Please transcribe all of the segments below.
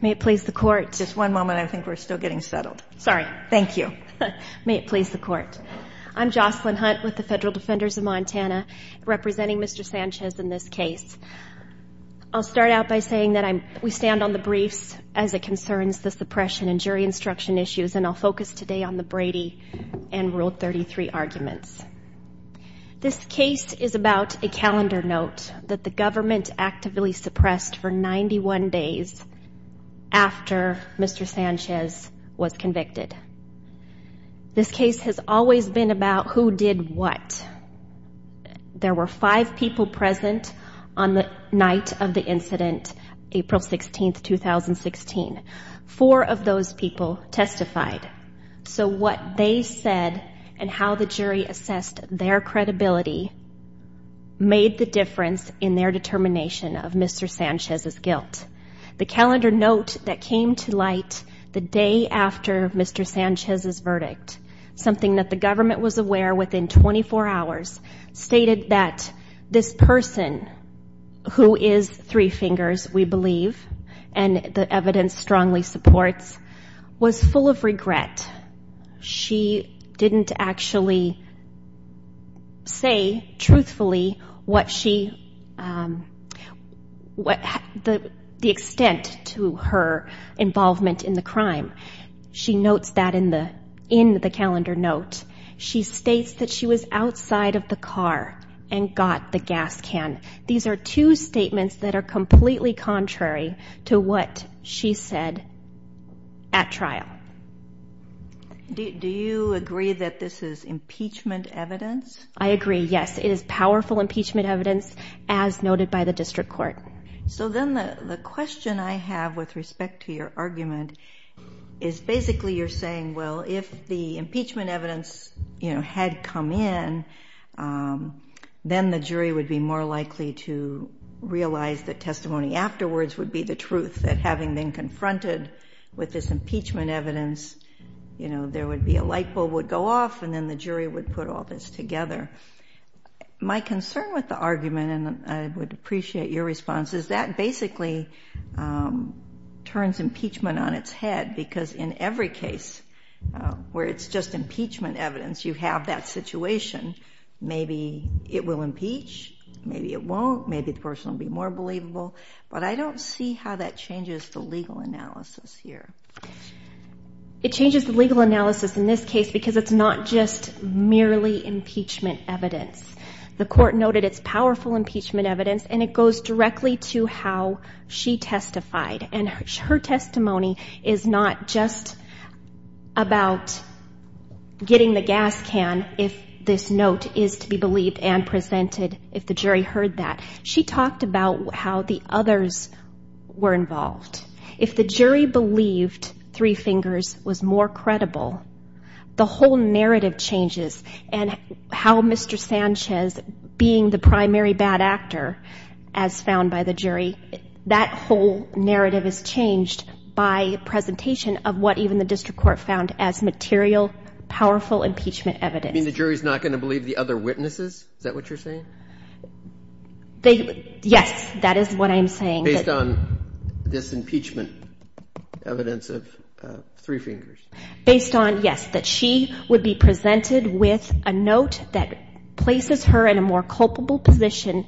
May it please the court. Just one moment, I think we're still getting settled. Sorry. Thank you. May it please the court. I'm Jocelyn Hunt with the Federal Defenders of Montana, representing Mr. Sanchez in this case. I'll start out by saying that we stand on the briefs as it concerns the suppression and jury instruction issues, and I'll focus today on the Brady and Rule 33 arguments. This case is about a calendar note that the government actively suppressed for 91 days after Mr. Sanchez was convicted. This case has always been about who did what. There were five people present on the night of the incident, April 16, 2016. Four of those people testified. So what they said and how the jury assessed their credibility made the difference in their determination of Mr. Sanchez's guilt. The calendar note that came to light the day after Mr. Sanchez's verdict, something that the government was aware within 24 hours, stated that this person, who is three fingers, we believe, and the evidence strongly supports, was full of regret. She didn't actually say truthfully what she, the extent to her involvement in the crime. She notes that in the calendar note. She states that she was outside of the car and got the gas can. These are two statements that are completely contrary to what she said at trial. Do you agree that this is impeachment evidence? I agree, yes. It is powerful impeachment evidence, as noted by the district court. So then the question I have with respect to your argument is basically you're saying, well, if the impeachment evidence, you know, had come in, then the jury would be more likely to realize that testimony afterwards would be the truth, that having been confronted with this impeachment evidence, you know, there would be a light bulb would go off and then the jury would put all this together. My concern with the argument, and I would appreciate your response, is that basically turns impeachment on its head because in every case where it's just impeachment evidence, you have that situation. Maybe it will impeach. Maybe it won't. Maybe the person will be more believable. But I don't see how that changes the legal analysis here. It changes the legal analysis in this case because it's not just merely impeachment evidence. The court noted it's powerful impeachment evidence, and it goes directly to how she testified, and her testimony is not just about getting the gas can if this note is to be believed and presented if the jury heard that. She talked about how the others were involved. If the jury believed Three Fingers was more credible, the whole narrative changes and how Mr. Sanchez, being the primary bad actor as found by the jury, that whole narrative is changed by presentation of what even the district court found as material, powerful impeachment evidence. You mean the jury is not going to believe the other witnesses? Is that what you're saying? Yes, that is what I'm saying. Based on this impeachment evidence of Three Fingers? Based on, yes, that she would be presented with a note that places her in a more culpable position,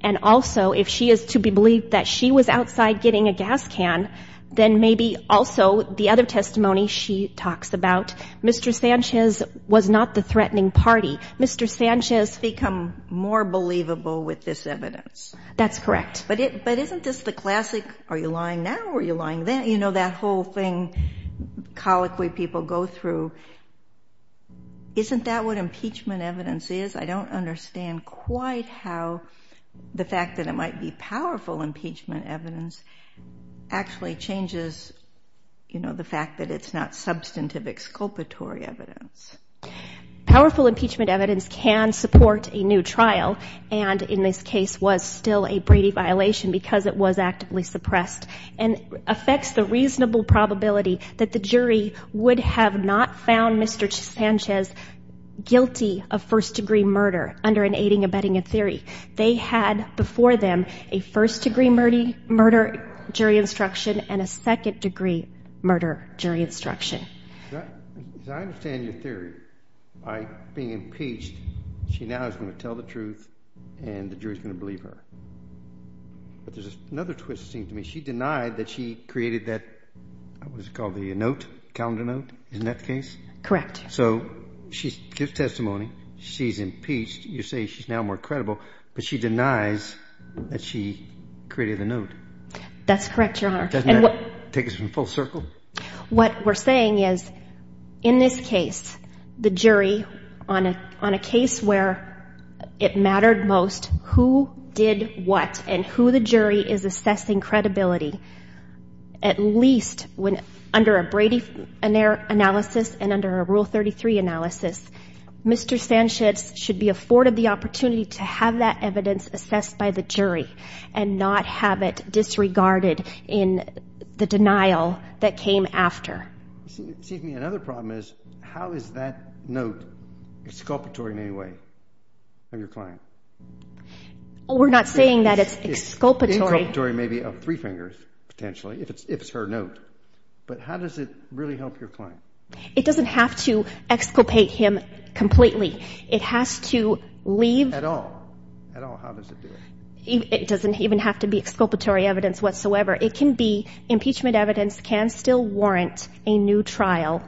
and also if she is to be believed that she was outside getting a gas can, then maybe also the other testimony she talks about, Mr. Sanchez was not the threatening party. Mr. Sanchez. Become more believable with this evidence. That's correct. But isn't this the classic, are you lying now or are you lying then? You know, that whole thing colloquy people go through. Isn't that what impeachment evidence is? I don't understand quite how the fact that it might be powerful impeachment evidence actually changes the fact that it's not substantive exculpatory evidence. Powerful impeachment evidence can support a new trial, and in this case was still a Brady violation because it was actively suppressed, and affects the reasonable probability that the jury would have not found Mr. Sanchez guilty of first-degree murder under an aiding and abetting a theory. They had before them a first-degree murder jury instruction and a second-degree murder jury instruction. As I understand your theory, by being impeached, she now is going to tell the truth and the jury is going to believe her. But there's another twist, it seems to me. She denied that she created that, what is it called, the note, calendar note, isn't that the case? Correct. So she gives testimony, she's impeached. You say she's now more credible, but she denies that she created the note. That's correct, Your Honor. Doesn't that take us in full circle? What we're saying is, in this case, the jury, on a case where it mattered most who did what and who the jury is assessing credibility, at least under a Brady analysis and under a Rule 33 analysis, Mr. Sanchez should be afforded the opportunity to have that evidence assessed by the jury and not have it disregarded in the denial that came after. It seems to me another problem is, how is that note exculpatory in any way of your client? We're not saying that it's exculpatory. It's inculpatory maybe of three fingers, potentially, if it's her note. But how does it really help your client? It doesn't have to exculpate him completely. It has to leave... At all? At all, how does it do it? It doesn't even have to be exculpatory evidence whatsoever. It can be impeachment evidence can still warrant a new trial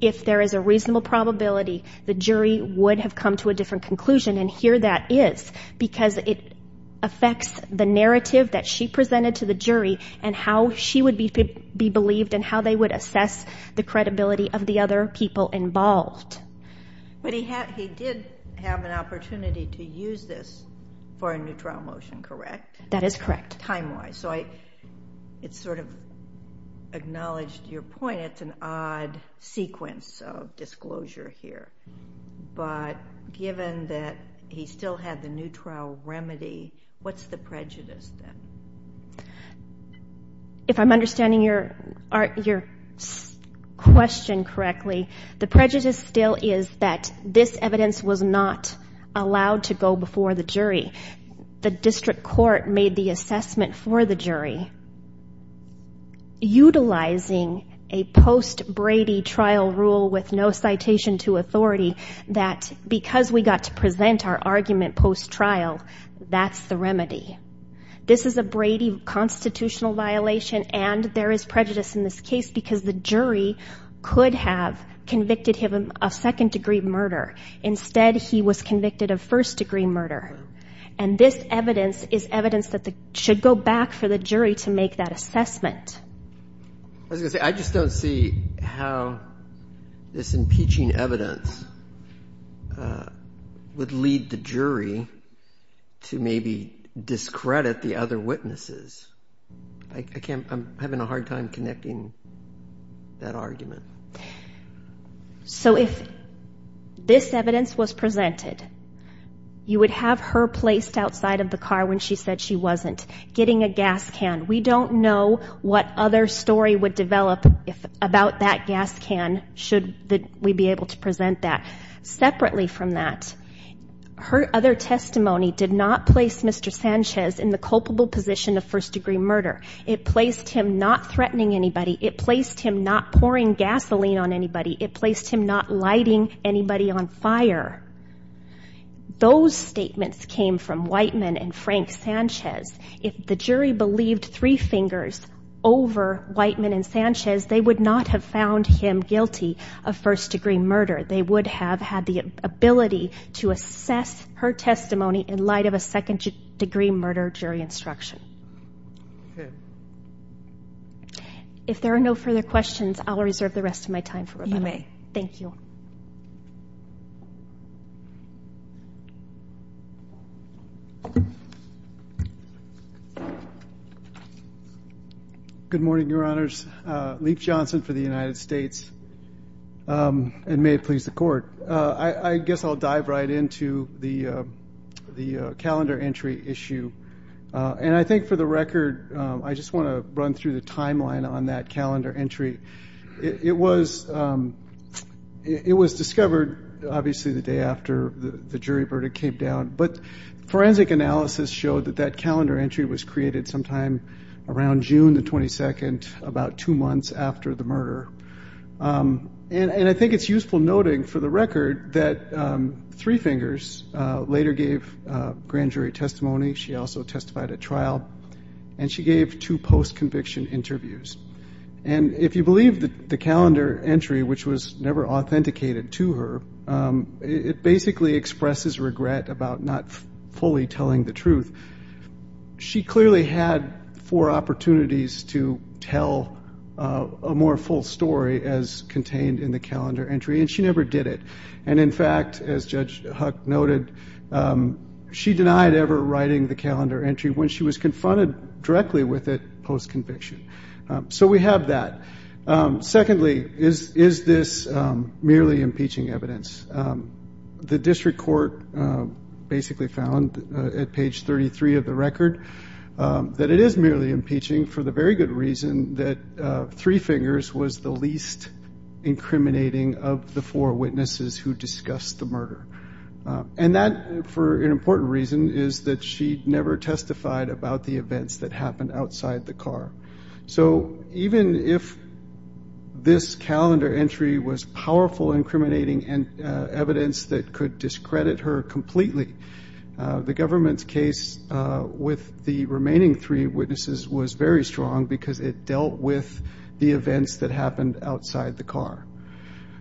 if there is a reasonable probability the jury would have come to a different conclusion, and here that is, because it affects the narrative that she presented to the jury and how she would be believed and how they would assess the credibility of the other people involved. But he did have an opportunity to use this for a new trial motion, correct? That is correct. Time-wise. So it sort of acknowledged your point. It's an odd sequence of disclosure here. But given that he still had the new trial remedy, what's the prejudice then? If I'm understanding your question correctly, the prejudice still is that this evidence was not allowed to go before the jury. The district court made the assessment for the jury, utilizing a post-Brady trial rule with no citation to authority that because we got to present our argument post-trial, that's the remedy. This is a Brady constitutional violation, and there is prejudice in this case because the jury could have convicted him of second-degree murder. Instead, he was convicted of first-degree murder. And this evidence is evidence that should go back for the jury to make that assessment. I was going to say, how this impeaching evidence would lead the jury to maybe discredit the other witnesses. I'm having a hard time connecting that argument. So if this evidence was presented, you would have her placed outside of the car when she said she wasn't, getting a gas can. We don't know what other story would develop about that gas can, should we be able to present that. Separately from that, her other testimony did not place Mr. Sanchez in the culpable position of first-degree murder. It placed him not threatening anybody. It placed him not pouring gasoline on anybody. It placed him not lighting anybody on fire. Those statements came from Whiteman and Frank Sanchez. If the jury believed three fingers over Whiteman and Sanchez, they would not have found him guilty of first-degree murder. They would have had the ability to assess her testimony in light of a second-degree murder jury instruction. Okay. If there are no further questions, I'll reserve the rest of my time for rebuttal. You may. Thank you. Good morning, Your Honors. Leif Johnson for the United States. And may it please the Court. I guess I'll dive right into the calendar entry issue. And I think, for the record, I just want to run through the timeline on that calendar entry. It was discovered, obviously, the day after the jury verdict came down. But forensic analysis showed that that calendar entry was created sometime around June the 22nd, about two months after the murder. And I think it's useful noting, for the record, that Three Fingers later gave grand jury testimony. She also testified at trial. And she gave two post-conviction interviews. And if you believe the calendar entry, which was never authenticated to her, it basically expresses regret about not fully telling the truth. She clearly had four opportunities to tell a more full story as contained in the calendar entry, and she never did it. And, in fact, as Judge Huck noted, she denied ever writing the calendar entry when she was confronted directly with it post-conviction. So we have that. Secondly, is this merely impeaching evidence? The district court basically found, at page 33 of the record, that it is merely impeaching for the very good reason that Three Fingers was the least incriminating of the four witnesses who discussed the murder. And that, for an important reason, is that she never testified about the events that happened outside the car. So even if this calendar entry was powerful, incriminating evidence that could discredit her completely, the government's case with the remaining three witnesses was very strong because it dealt with the events that happened outside the car.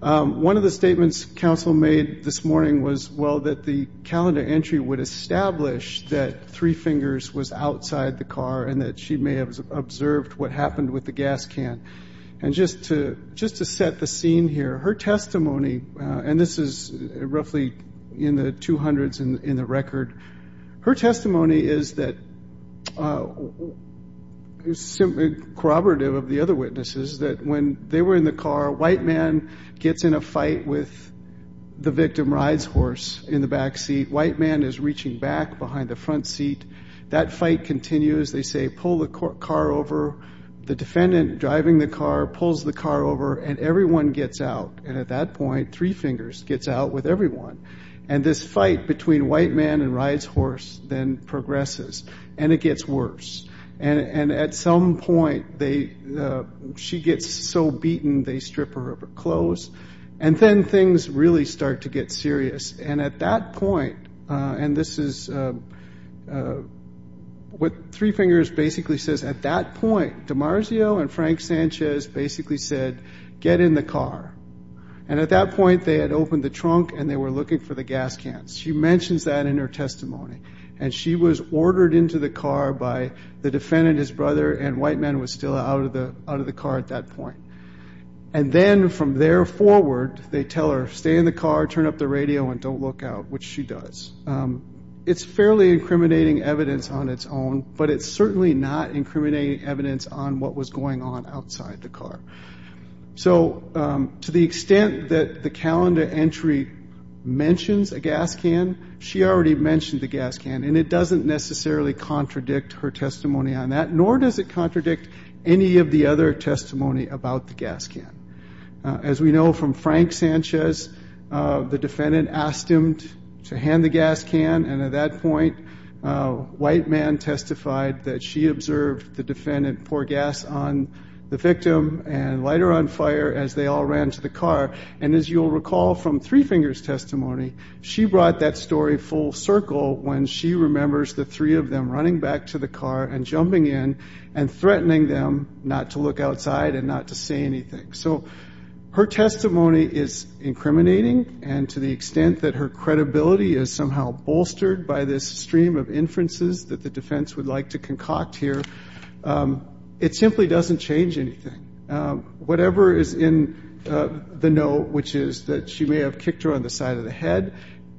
One of the statements counsel made this morning was, well, that the calendar entry would establish that Three Fingers was outside the car and that she may have observed what happened with the gas can. And just to set the scene here, her testimony, and this is roughly in the 200s in the record, her testimony is that, corroborative of the other witnesses, that when they were in the car, White Man gets in a fight with the victim, Rides Horse, in the back seat. White Man is reaching back behind the front seat. That fight continues. They say, pull the car over. The defendant driving the car pulls the car over, and everyone gets out. And at that point, Three Fingers gets out with everyone. And this fight between White Man and Rides Horse then progresses, and it gets worse. And at some point, she gets so beaten, they strip her of her clothes. And then things really start to get serious. And at that point, and this is what Three Fingers basically says, at that point, DiMarzio and Frank Sanchez basically said, get in the car. And at that point, they had opened the trunk and they were looking for the gas cans. She mentions that in her testimony. And she was ordered into the car by the defendant, his brother, and White Man was still out of the car at that point. And then from there forward, they tell her, stay in the car, turn up the radio, and don't look out, which she does. It's fairly incriminating evidence on its own, but it's certainly not incriminating evidence on what was going on outside the car. So to the extent that the calendar entry mentions a gas can, she already mentioned the gas can, and it doesn't necessarily contradict her testimony on that, nor does it contradict any of the other testimony about the gas can. As we know from Frank Sanchez, the defendant asked him to hand the gas can, and at that point, White Man testified that she observed the defendant pour gas on the victim and light her on fire as they all ran to the car. And as you'll recall from Three Fingers' testimony, she brought that story full circle when she remembers the three of them running back to the car and jumping in and threatening them not to look outside and not to say anything. So her testimony is incriminating, and to the extent that her credibility is somehow bolstered by this stream of inferences that the defense would like to concoct here, it simply doesn't change anything. Whatever is in the note, which is that she may have kicked her on the side of the head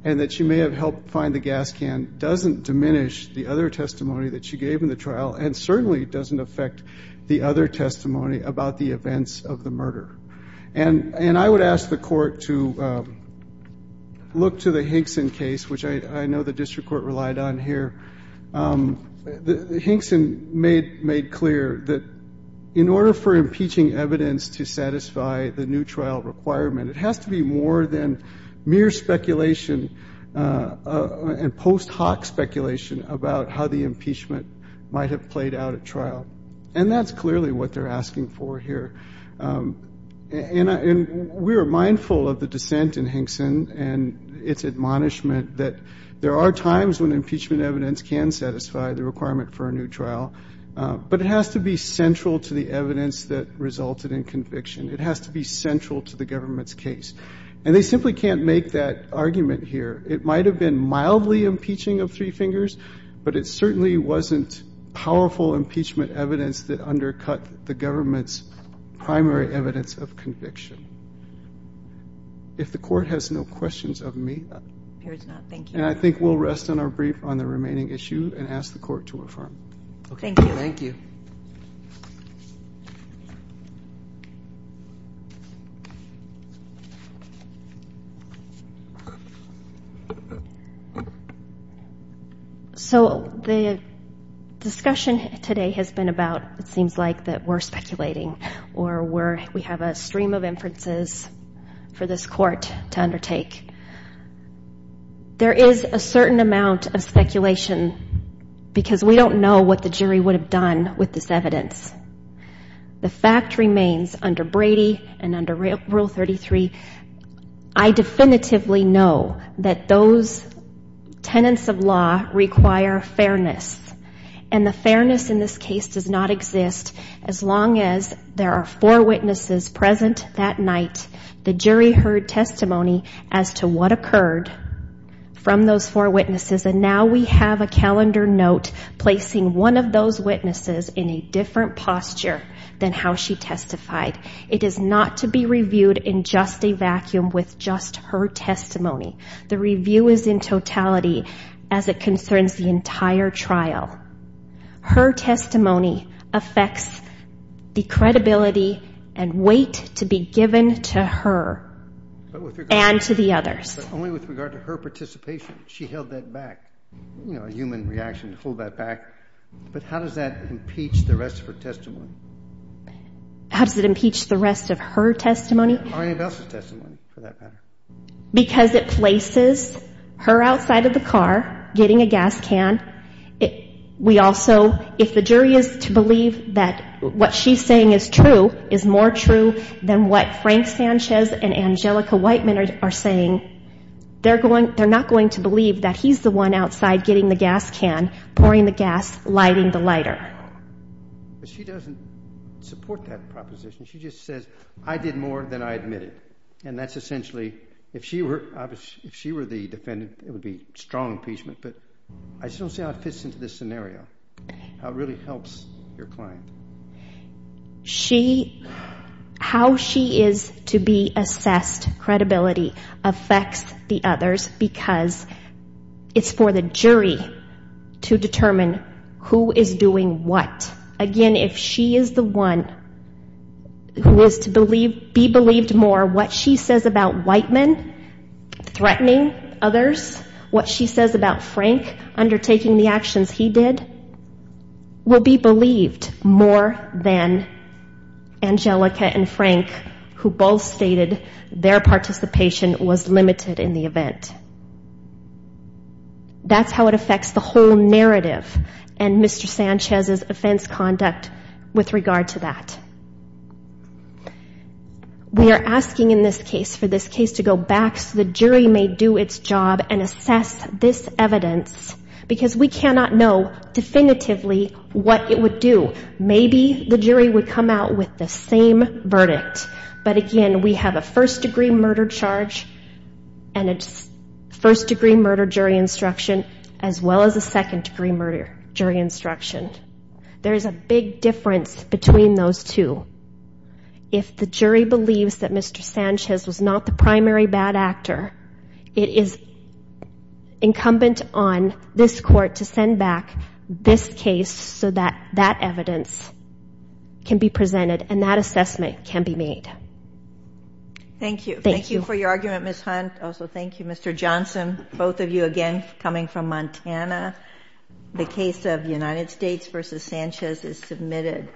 and that she may have helped find the gas can, it doesn't diminish the other testimony that she gave in the trial and certainly doesn't affect the other testimony about the events of the murder. And I would ask the Court to look to the Hinkson case, which I know the district court relied on here. Hinkson made clear that in order for impeaching evidence to satisfy the new trial requirement, it has to be more than mere speculation and post hoc speculation about how the impeachment might have played out at trial. And that's clearly what they're asking for here. And we are mindful of the dissent in Hinkson and its admonishment that there are times when impeachment evidence can satisfy the requirement for a new trial, but it has to be central to the evidence that resulted in conviction. It has to be central to the government's case. And they simply can't make that argument here. It might have been mildly impeaching of three fingers, but it certainly wasn't powerful impeachment evidence that undercut the government's primary evidence of conviction. If the Court has no questions of me, and I think we'll rest on our brief on the remaining issue and ask the Court to affirm. Thank you. So the discussion today has been about it seems like that we're speculating or we have a stream of inferences for this Court to undertake. There is a certain amount of speculation because we don't know what the jury would have done with this evidence. The fact remains under Brady and under Rule 33, I definitively know that those tenets of law require fairness. And the fairness in this case does not exist as long as there are four witnesses present that night. The jury heard testimony as to what occurred from those four witnesses, and now we have a calendar note placing one of those witnesses in a different posture than how she testified. It is not to be reviewed in just a vacuum with just her testimony. The review is in totality as it concerns the entire trial. Her testimony affects the credibility and weight to be given to her and to the others. But only with regard to her participation. She held that back, you know, a human reaction to hold that back. But how does that impeach the rest of her testimony? How does it impeach the rest of her testimony? Or anybody else's testimony, for that matter. Because it places her outside of the car getting a gas can. We also, if the jury is to believe that what she's saying is true, is more true than what Frank Sanchez and Angelica Whiteman are saying, they're not going to believe that he's the one outside getting the gas can, pouring the gas, lighting the lighter. But she doesn't support that proposition. She just says, I did more than I admitted. And that's essentially, if she were the defendant, it would be strong impeachment. But I just don't see how it fits into this scenario. How it really helps your client. She, how she is to be assessed, credibility, affects the others because it's for the jury to determine who is doing what. Again, if she is the one who is to be believed more, what she says about Whiteman threatening others, what she says about Frank undertaking the actions he did, will be believed more than Angelica and Frank, who both stated their participation was limited in the event. That's how it affects the whole narrative. And Mr. Sanchez's offense conduct with regard to that. We are asking in this case, for this case to go back so the jury may do its job and assess this evidence because we cannot know definitively what it would do. Maybe the jury would come out with the same verdict. But again, we have a first degree murder charge and a first degree murder jury instruction as well as a second degree murder jury instruction. There is a big difference between those two. If the jury believes that Mr. Sanchez was not the primary bad actor, it is incumbent on this court to send back this case so that that evidence can be presented and that assessment can be made. Thank you. Thank you for your argument, Ms. Hunt. Also, thank you, Mr. Johnson. Both of you, again, coming from Montana. The case of United States v. Sanchez is submitted.